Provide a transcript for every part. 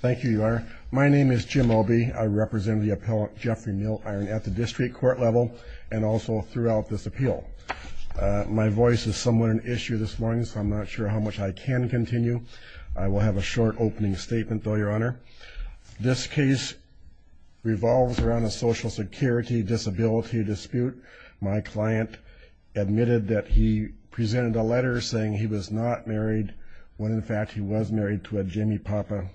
Thank you, Your Honor. My name is Jim Obie. I represent the appellant Jeffrey Milliron at the district court level and also throughout this appeal. My voice is somewhat an issue this morning, so I'm not sure how much I can continue. I will have a short opening statement, though, Your Honor. This case revolves around a Social Security disability dispute. My client admitted that he presented a letter saying he was not married when, in fact, he was married to a Jimmy Papa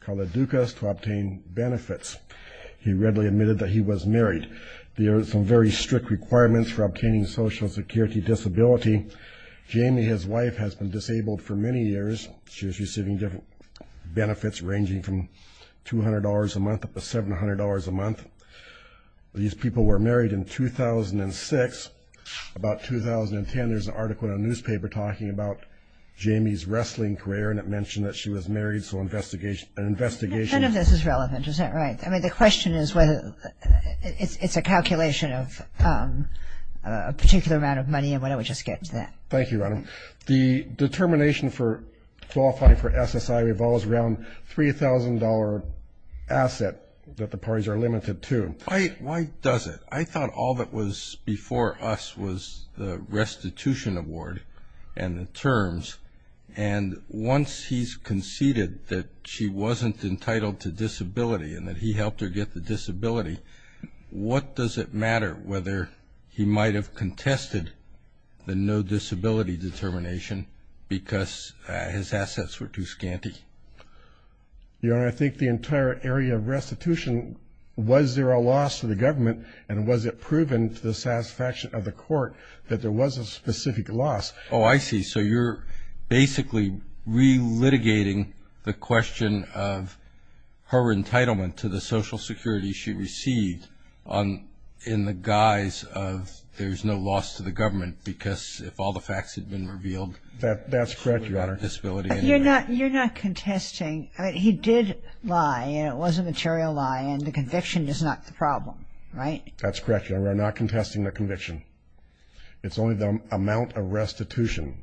called a Dukas to obtain benefits. He readily admitted that he was married. There are some very strict requirements for obtaining a Social Security disability. Jimmy, his wife, has been disabled for many years. She was receiving different benefits ranging from $200 a month up to $700 a month. These people were married in 2006. About 2010, there's an article in a newspaper talking about Jamie's wrestling career, and it mentioned that she was married, so an investigation None of this is relevant, is that right? I mean, the question is whether it's a calculation of a particular amount of money, and why don't we just get to that. Thank you, Your Honor. The determination for qualifying for SSI revolves around a $3,000 asset that the parties are limited to. Why does it? I thought all that was before us was the restitution award and the terms, and once he's conceded that she wasn't entitled to disability and that he helped her get the disability, what does it matter whether he might have contested the no disability determination because his assets were too scanty? Your Honor, I think the entire area of restitution, was there a loss to the government, and was it proven to the satisfaction of the court that there was a specific loss? Oh, I see, so you're basically re-litigating the question of her entitlement to the social security she received in the guise of there's no loss to the government because if all the facts had been revealed... That's correct, Your Honor. You're not contesting. He did lie, and it was a material lie, and the conviction is not the problem, right? That's correct, Your Honor. We're not contesting the conviction. It's only the amount of restitution.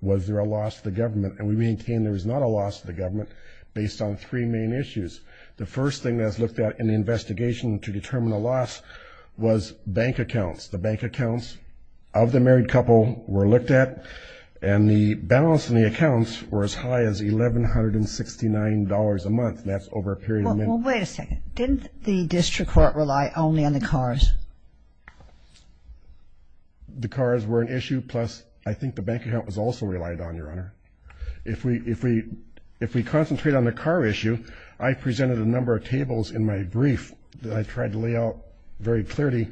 Was there a loss to the government? And we maintain there was not a loss to the government based on three main issues. The first thing that was looked at in the investigation to determine the loss was bank accounts. The bank accounts of the married couple were looked at, and the balance in the accounts were as high as $1,169 a month, and that's over a period of time. Well, wait a second. Didn't the district court rely only on the cars? The cars were an issue, plus I think the bank account was also relied on, Your Honor. If we concentrate on the car issue, I presented a number of tables in my brief that I tried to lay out very clearly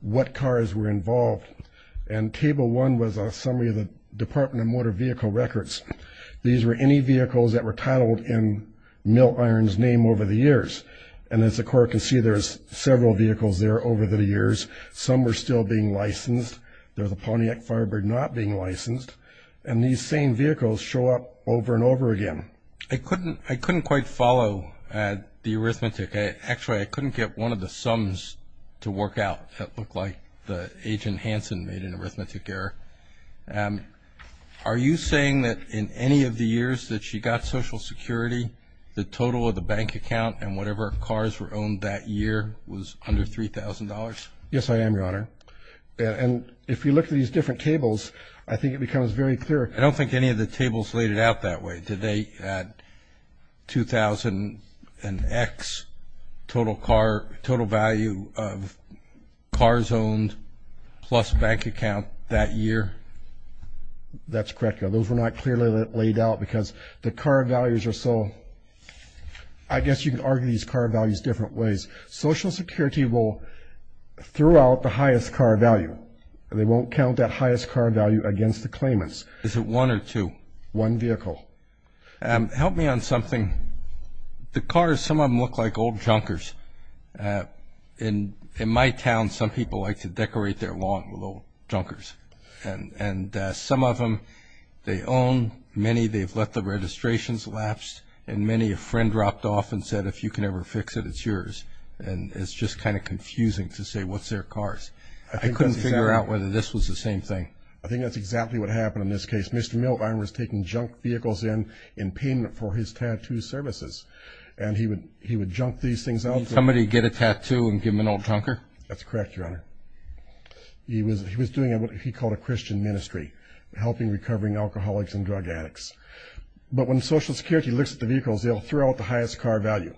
what cars were involved, and Table 1 was a summary of the Department of Motor Vehicle Records. These were any vehicles that were titled in Milt Iron's name over the years, and as the court can see, there's several vehicles there over the years. Some were still being licensed. There was a Pontiac Firebird not being licensed, and these same vehicles show up over and over again. I couldn't quite follow the arithmetic. Actually, I couldn't get one of the sums to work out. That looked like Agent Hanson made an arithmetic error. Are you saying that in any of the years that she got Social Security, the total of the bank account and whatever cars were owned that year was under $3,000? Yes, I am, Your Honor, and if you look at these different tables, I think it becomes very clear. I don't think any of the tables laid it out that way. Did they add 2,000 and X total car – total value of cars owned plus bank account that year? That's correct, Your Honor. Those were not clearly laid out because the car values are so – I guess you can argue these car values different ways. Social Security will throw out the highest car value. They won't count that highest car value against the claimants. Is it one or two? One vehicle. Help me on something. The cars, some of them look like old junkers. In my town, some people like to decorate their lawn with old junkers, and some of them they own. Many they've let the registrations lapse, and many a friend dropped off and said, if you can ever fix it, it's yours, and it's just kind of confusing to say what's their cars. I couldn't figure out whether this was the same thing. I think that's exactly what happened in this case. Mr. Milne was taking junk vehicles in in payment for his tattoo services, and he would junk these things out. Did somebody get a tattoo and give him an old junker? That's correct, Your Honor. He was doing what he called a Christian ministry, helping recovering alcoholics and drug addicts. But when Social Security looks at the vehicles, they'll throw out the highest car value.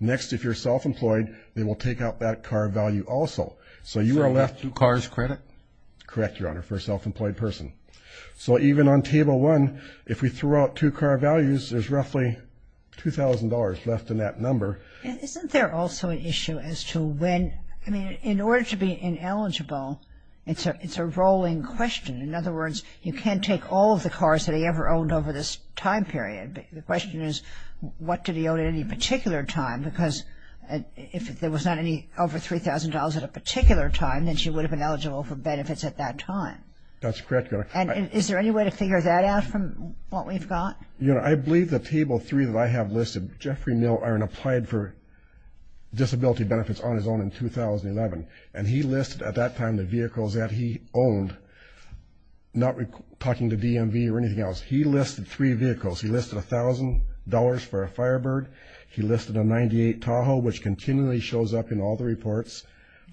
Next, if you're self-employed, they will take out that car value also. So you are left – Do cars credit? Correct, Your Honor, for a self-employed person. So even on Table 1, if we throw out two car values, there's roughly $2,000 left in that number. Isn't there also an issue as to when – I mean, in order to be ineligible, it's a rolling question. In other words, you can't take all of the cars that he ever owned over this time period. The question is, what did he own at any particular time? Because if there was not any over $3,000 at a particular time, then she would have been eligible for benefits at that time. That's correct, Your Honor. And is there any way to figure that out from what we've got? Your Honor, I believe that Table 3 that I have listed, Jeffrey Milliron applied for disability benefits on his own in 2011, and he listed at that time the vehicles that he owned, not talking to DMV or anything else. He listed three vehicles. He listed $1,000 for a Firebird. He listed a 98 Tahoe, which continually shows up in all the reports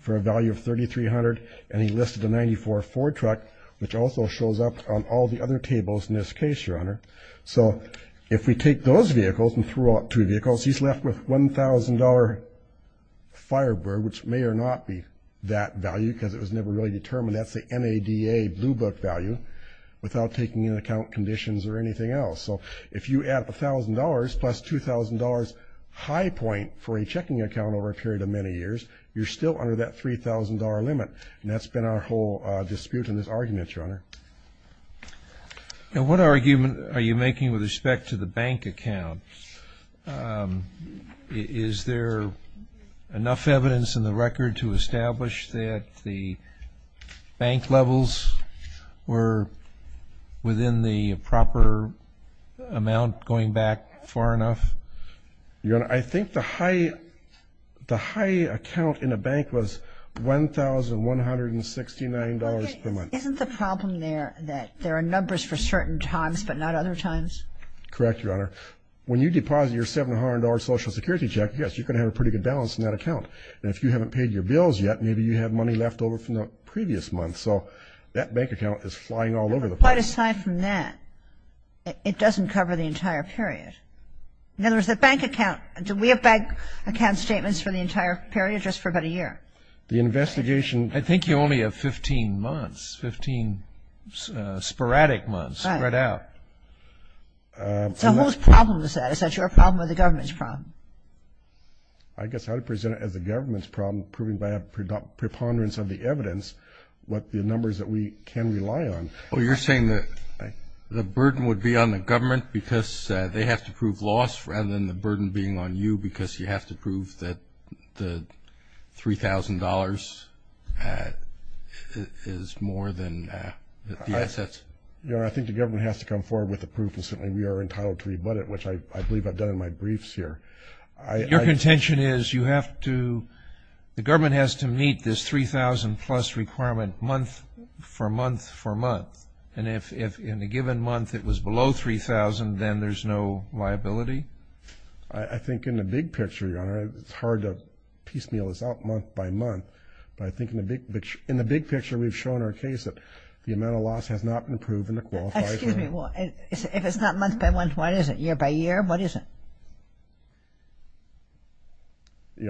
for a value of $3,300. And he listed a 94 Ford truck, which also shows up on all the other tables in this case, Your Honor. So if we take those vehicles and throw out two vehicles, he's left with $1,000 Firebird, which may or may not be that value because it was never really determined. That's the NADA Blue Book value without taking into account conditions or anything else. So if you add up $1,000 plus $2,000 high point for a checking account over a period of many years, you're still under that $3,000 limit, and that's been our whole dispute in this argument, Your Honor. And what argument are you making with respect to the bank account? Is there enough evidence in the record to establish that the bank levels were within the proper amount going back far enough? Your Honor, I think the high account in the bank was $1,169 per month. Isn't the problem there that there are numbers for certain times but not other times? Correct, Your Honor. When you deposit your $700 Social Security check, yes, you're going to have a pretty good balance in that account. And if you haven't paid your bills yet, maybe you had money left over from the previous month. So that bank account is flying all over the place. Quite aside from that, it doesn't cover the entire period. In other words, the bank account, do we have bank account statements for the entire period, just for about a year? The investigation, I think you only have 15 months, 15 sporadic months spread out. So whose problem is that? Is that your problem or the government's problem? I guess I would present it as the government's problem, proving by a preponderance of the evidence what the numbers that we can rely on. So you're saying that the burden would be on the government because they have to prove loss rather than the burden being on you because you have to prove that the $3,000 is more than the assets? Your Honor, I think the government has to come forward with the proof and certainly we are entitled to rebut it, which I believe I've done in my briefs here. Your contention is you have to, the government has to meet this $3,000 plus requirement month for month for month, and if in a given month it was below $3,000, then there's no liability? I think in the big picture, Your Honor, it's hard to piecemeal this out month by month, but I think in the big picture we've shown our case that the amount of loss has not been proven. Excuse me. If it's not month by month, what is it, year by year, what is it?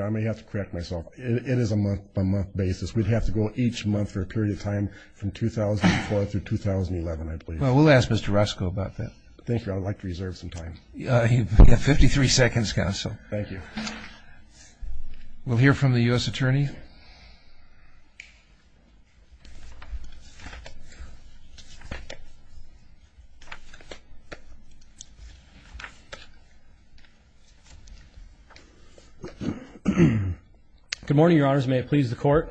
I may have to correct myself. It is a month-by-month basis. We'd have to go each month for a period of time from 2004 through 2011, I believe. Well, we'll ask Mr. Roscoe about that. Thank you. I'd like to reserve some time. You've got 53 seconds, counsel. Thank you. We'll hear from the U.S. Attorney. Good morning, Your Honors. May it please the Court.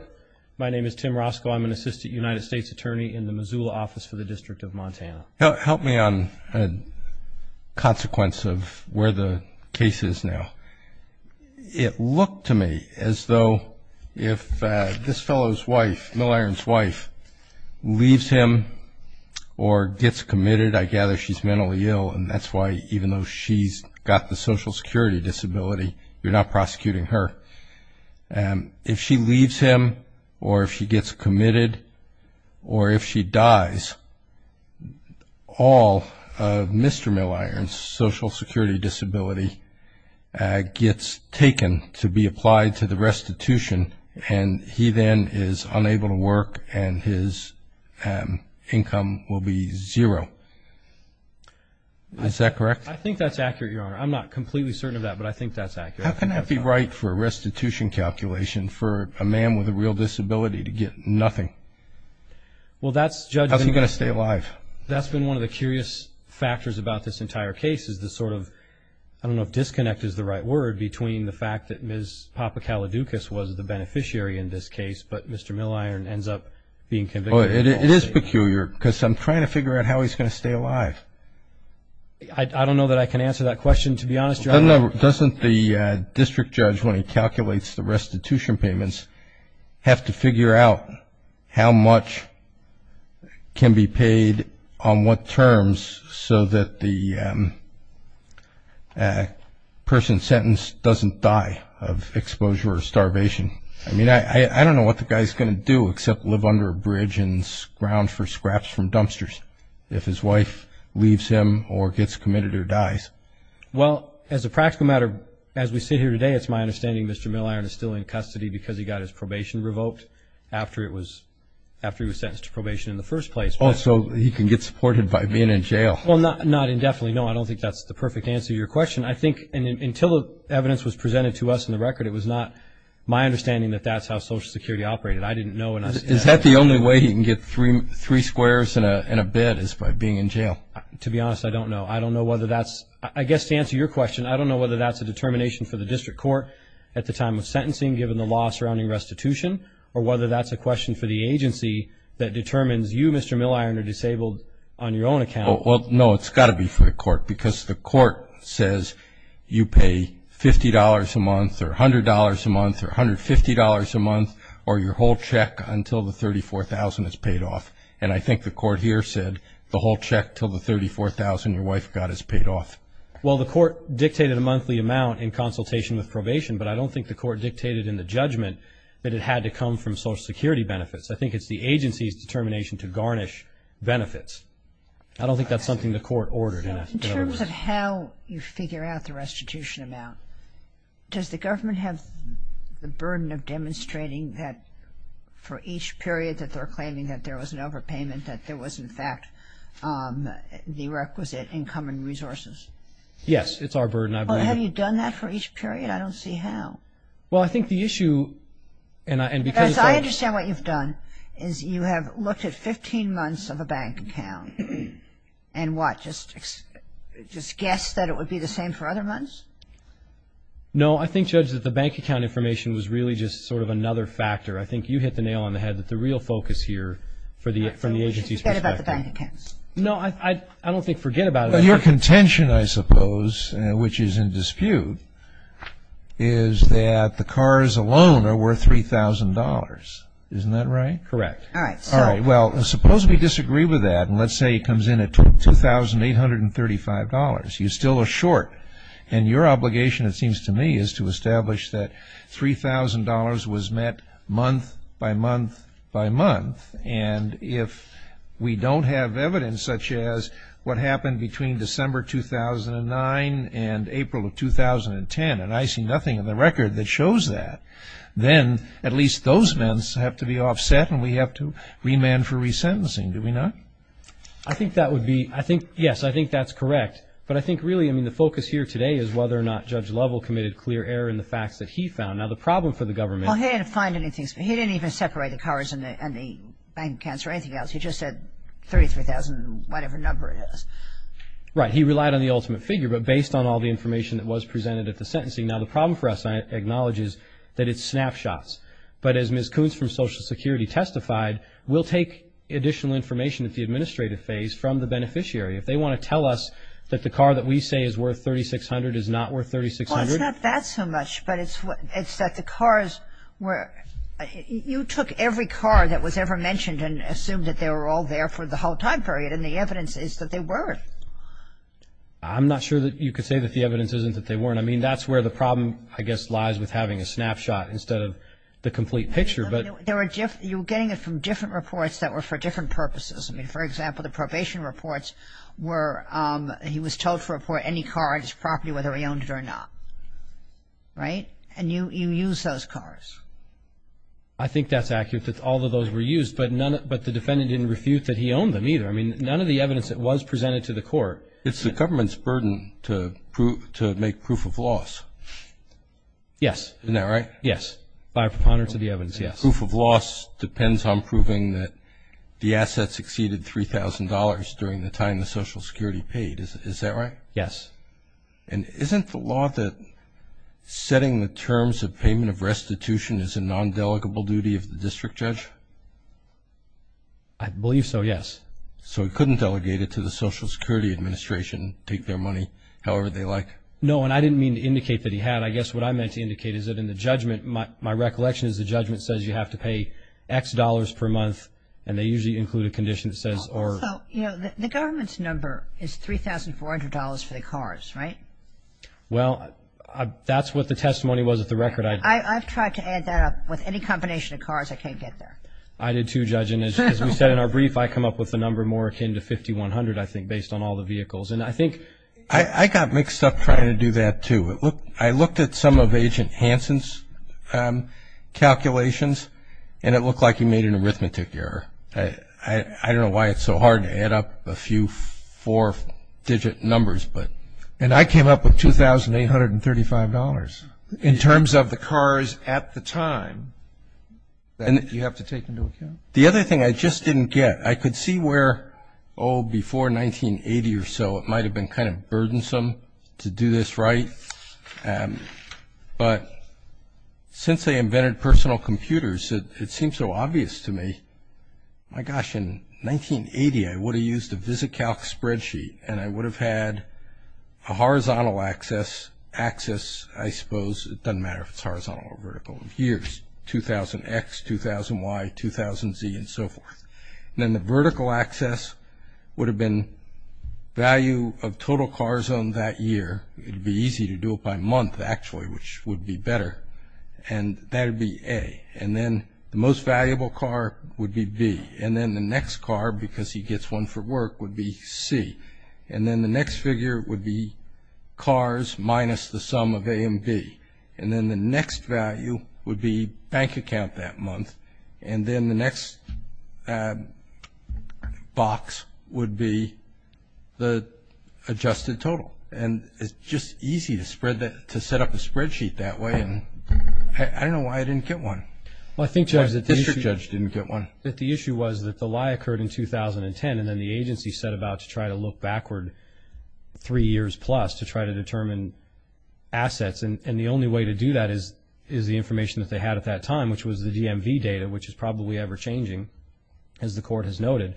My name is Tim Roscoe. I'm an Assistant United States Attorney in the Missoula Office for the District of Montana. Help me on a consequence of where the case is now. It looked to me as though if this fellow's wife, Mill Iron's wife, leaves him or gets committed, I gather she's mentally ill and that's why even though she's got the Social Security disability, you're not prosecuting her. If she leaves him or if she gets committed or if she dies, all of Mr. Mill Iron's Social Security disability gets taken to be applied to the restitution and he then is unable to work and his income will be zero. Is that correct? I think that's accurate, Your Honor. I'm not completely certain of that, but I think that's accurate. How can that be right for a restitution calculation for a man with a real disability to get nothing? Well, that's, Judge. How's he going to stay alive? That's been one of the curious factors about this entire case is the sort of, I don't know if disconnect is the right word, between the fact that Ms. Papakaladoukas was the beneficiary in this case, but Mr. Mill Iron ends up being convicted. It is peculiar because I'm trying to figure out how he's going to stay alive. I don't know that I can answer that question, to be honest, Your Honor. Doesn't the district judge, when he calculates the restitution payments, have to figure out how much can be paid on what terms so that the person sentenced doesn't die of exposure or starvation? I mean, I don't know what the guy's going to do except live under a bridge and scrounge for scraps from dumpsters if his wife leaves him or gets committed or dies. Well, as a practical matter, as we sit here today, it's my understanding Mr. Mill Iron is still in custody because he got his probation revoked after he was sentenced to probation in the first place. Oh, so he can get supported by being in jail. Well, not indefinitely, no. I don't think that's the perfect answer to your question. I think until the evidence was presented to us in the record, it was not my understanding that that's how Social Security operated. I didn't know. Is that the only way he can get three squares and a bed is by being in jail? To be honest, I don't know. I don't know whether that's – I guess to answer your question, I don't know whether that's a determination for the district court at the time of sentencing given the law surrounding restitution or whether that's a question for the agency that determines you, Mr. Mill Iron, are disabled on your own account. Well, no, it's got to be for the court because the court says you pay $50 a month or $100 a month or $150 a month or your whole check until the $34,000 is paid off. And I think the court here said the whole check until the $34,000 your wife got is paid off. Well, the court dictated a monthly amount in consultation with probation, but I don't think the court dictated in the judgment that it had to come from Social Security benefits. I think it's the agency's determination to garnish benefits. I don't think that's something the court ordered. In terms of how you figure out the restitution amount, does the government have the burden of demonstrating that for each period that they're claiming that there was an overpayment, that there was, in fact, the requisite income and resources? Yes, it's our burden. Well, have you done that for each period? I don't see how. Well, I think the issue, and because I'm – Because I understand what you've done is you have looked at 15 months of a bank account. And what, just guessed that it would be the same for other months? No, I think, Judge, that the bank account information was really just sort of another factor. I think you hit the nail on the head that the real focus here for the agency's perspective. So we should forget about the bank accounts? No, I don't think forget about it. Your contention, I suppose, which is in dispute, is that the cars alone are worth $3,000. Isn't that right? Correct. All right. Well, suppose we disagree with that, and let's say it comes in at $2,835. You still are short. And your obligation, it seems to me, is to establish that $3,000 was met month by month by month. And if we don't have evidence such as what happened between December 2009 and April of 2010, and I see nothing in the record that shows that, then at least those months have to be offset and we have to remand for resentencing. Do we not? I think that would be, I think, yes, I think that's correct. But I think really, I mean, the focus here today is whether or not Judge Lovell committed clear error in the facts that he found. Now, the problem for the government. Well, he didn't find anything. He didn't even separate the cars and the bank accounts or anything else. He just said $33,000, whatever number it is. Right. He relied on the ultimate figure, but based on all the information that was presented at the sentencing. Now, the problem for us, I acknowledge, is that it's snapshots. But as Ms. Koonce from Social Security testified, we'll take additional information at the administrative phase from the beneficiary. If they want to tell us that the car that we say is worth $3,600 is not worth $3,600. Well, it's not that so much, but it's that the cars were, you took every car that was ever mentioned and assumed that they were all there for the whole time period, and the evidence is that they weren't. I'm not sure that you could say that the evidence isn't that they weren't. I mean, that's where the problem, I guess, lies with having a snapshot instead of the complete picture. You're getting it from different reports that were for different purposes. For example, the probation reports were he was told to report any car on his property whether he owned it or not. Right? And you used those cars. I think that's accurate that all of those were used, but the defendant didn't refute that he owned them either. I mean, none of the evidence that was presented to the court. It's the government's burden to make proof of loss. Yes. Isn't that right? Yes. By a preponderance of the evidence, yes. Proof of loss depends on proving that the assets exceeded $3,000 during the time the Social Security paid. Is that right? Yes. And isn't the law that setting the terms of payment of restitution is a non-delegable duty of the district judge? I believe so, yes. So he couldn't delegate it to the Social Security Administration and take their money however they like? No, and I didn't mean to indicate that he had. I guess what I meant to indicate is that in the judgment, my recollection is the judgment says you have to pay X dollars per month, and they usually include a condition that says or. So, you know, the government's number is $3,400 for the cars, right? Well, that's what the testimony was at the record. I've tried to add that up. With any combination of cars, I can't get there. I did too, Judge. As we said in our brief, I come up with the number more akin to 5,100, I think, based on all the vehicles. And I think. I got mixed up trying to do that too. I looked at some of Agent Hansen's calculations, and it looked like he made an arithmetic error. I don't know why it's so hard to add up a few four-digit numbers, but. And I came up with $2,835. In terms of the cars at the time, you have to take into account. The other thing I just didn't get, I could see where, oh, before 1980 or so, it might have been kind of burdensome to do this right. But since they invented personal computers, it seems so obvious to me. My gosh, in 1980, I would have used a VisiCalc spreadsheet, and I would have had a horizontal axis, I suppose. It doesn't matter if it's horizontal or vertical. Here's 2,000X, 2,000Y, 2,000Z, and so forth. And then the vertical axis would have been value of total cars owned that year. It would be easy to do it by month, actually, which would be better. And that would be A. And then the most valuable car would be B. And then the next car, because he gets one for work, would be C. And then the next figure would be cars minus the sum of A and B. And then the next value would be bank account that month. And then the next box would be the adjusted total. And it's just easy to set up a spreadsheet that way, and I don't know why I didn't get one. I think, Judge, that the issue was that the lie occurred in 2010, and then the agency set about to try to look backward three years plus to try to determine assets. And the only way to do that is the information that they had at that time, which was the DMV data, which is probably ever-changing, as the Court has noted.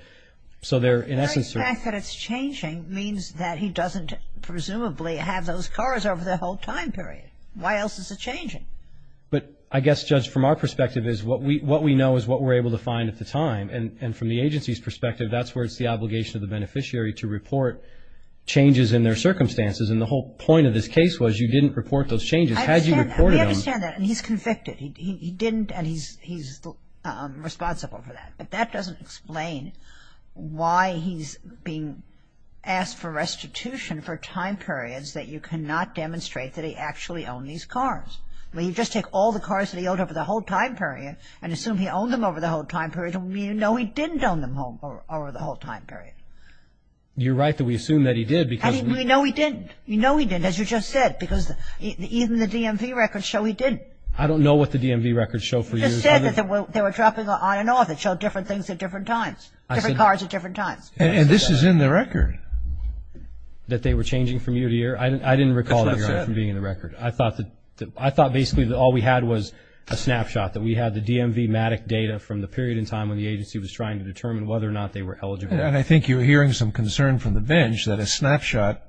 So they're in essence sort of ---- The fact that it's changing means that he doesn't presumably have those cars over the whole time period. Why else is it changing? But I guess, Judge, from our perspective is what we know is what we're able to find at the time. And from the agency's perspective, that's where it's the obligation of the beneficiary to report changes in their circumstances. And the whole point of this case was you didn't report those changes. Had you reported them ---- We understand that. And he's convicted. He didn't, and he's responsible for that. But that doesn't explain why he's being asked for restitution for time periods that you cannot demonstrate that he actually owned these cars. I mean, you just take all the cars that he owned over the whole time period and assume he owned them over the whole time period, and we know he didn't own them over the whole time period. You're right that we assume that he did because ---- And we know he didn't. We know he didn't, as you just said, because even the DMV records show he didn't. I don't know what the DMV records show for you. It just said that they were dropping on and off. It showed different things at different times, different cars at different times. And this is in the record. That they were changing from year to year? I didn't recall that, Your Honor, from being in the record. I thought basically that all we had was a snapshot, that we had the DMV MATIC data from the period in time when the agency was trying to determine whether or not they were eligible. And I think you're hearing some concern from the bench that a snapshot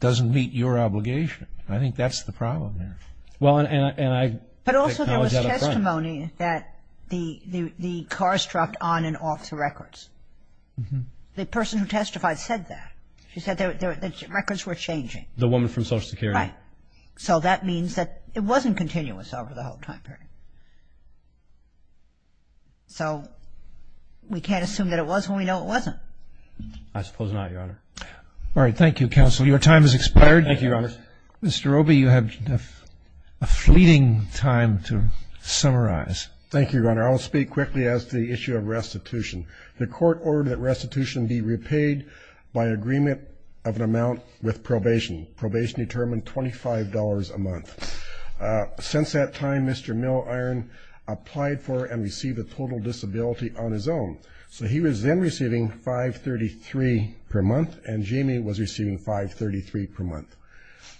doesn't meet your obligation. I think that's the problem there. But also there was testimony that the cars dropped on and off the records. The person who testified said that. She said the records were changing. The woman from Social Security? Right. So that means that it wasn't continuous over the whole time period. So we can't assume that it was when we know it wasn't. I suppose not, Your Honor. All right. Thank you, counsel. Your time has expired. Thank you, Your Honor. Mr. Obey, you have a fleeting time to summarize. Thank you, Your Honor. I'll speak quickly as to the issue of restitution. The court ordered that restitution be repaid by agreement of an amount with probation. Probation determined $25 a month. Since that time, Mr. Milliron applied for and received a total disability on his own. So he was then receiving $5.33 per month, and Jamie was receiving $5.33 per month.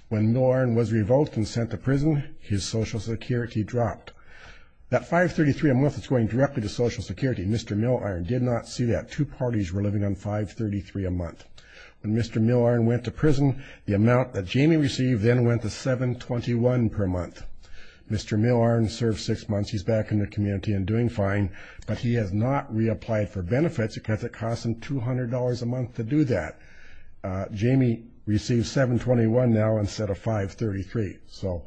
When Milliron was revoked and sent to prison, his Social Security dropped. That $5.33 a month is going directly to Social Security. Mr. Milliron did not see that. Two parties were living on $5.33 a month. When Mr. Milliron went to prison, the amount that Jamie received then went to $7.21 per month. Mr. Milliron served six months. He's back in the community and doing fine. But he has not reapplied for benefits because it costs him $200 a month to do that. Jamie receives $7.21 now instead of $5.33.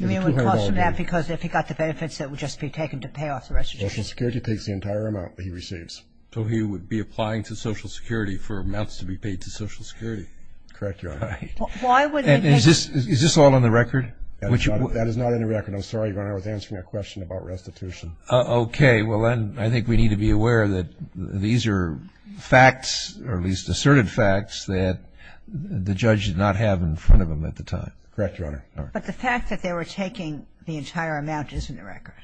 I mean, it would cost him that because if he got the benefits, it would just be taken to pay off the restitution. Social Security takes the entire amount that he receives. So he would be applying to Social Security for amounts to be paid to Social Security. Correct, Your Honor. And is this all on the record? That is not in the record. I'm sorry, Your Honor. I was answering a question about restitution. Okay. Well, then I think we need to be aware that these are facts, or at least asserted facts, that the judge did not have in front of him at the time. Correct, Your Honor. But the fact that they were taking the entire amount is in the record,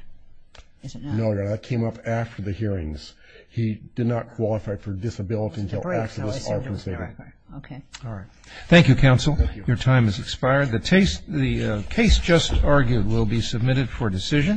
is it not? No, Your Honor. That came up after the hearings. He did not qualify for disability until after this hearing. Okay. All right. Thank you, counsel. Your time has expired. The case just argued will be submitted for decision.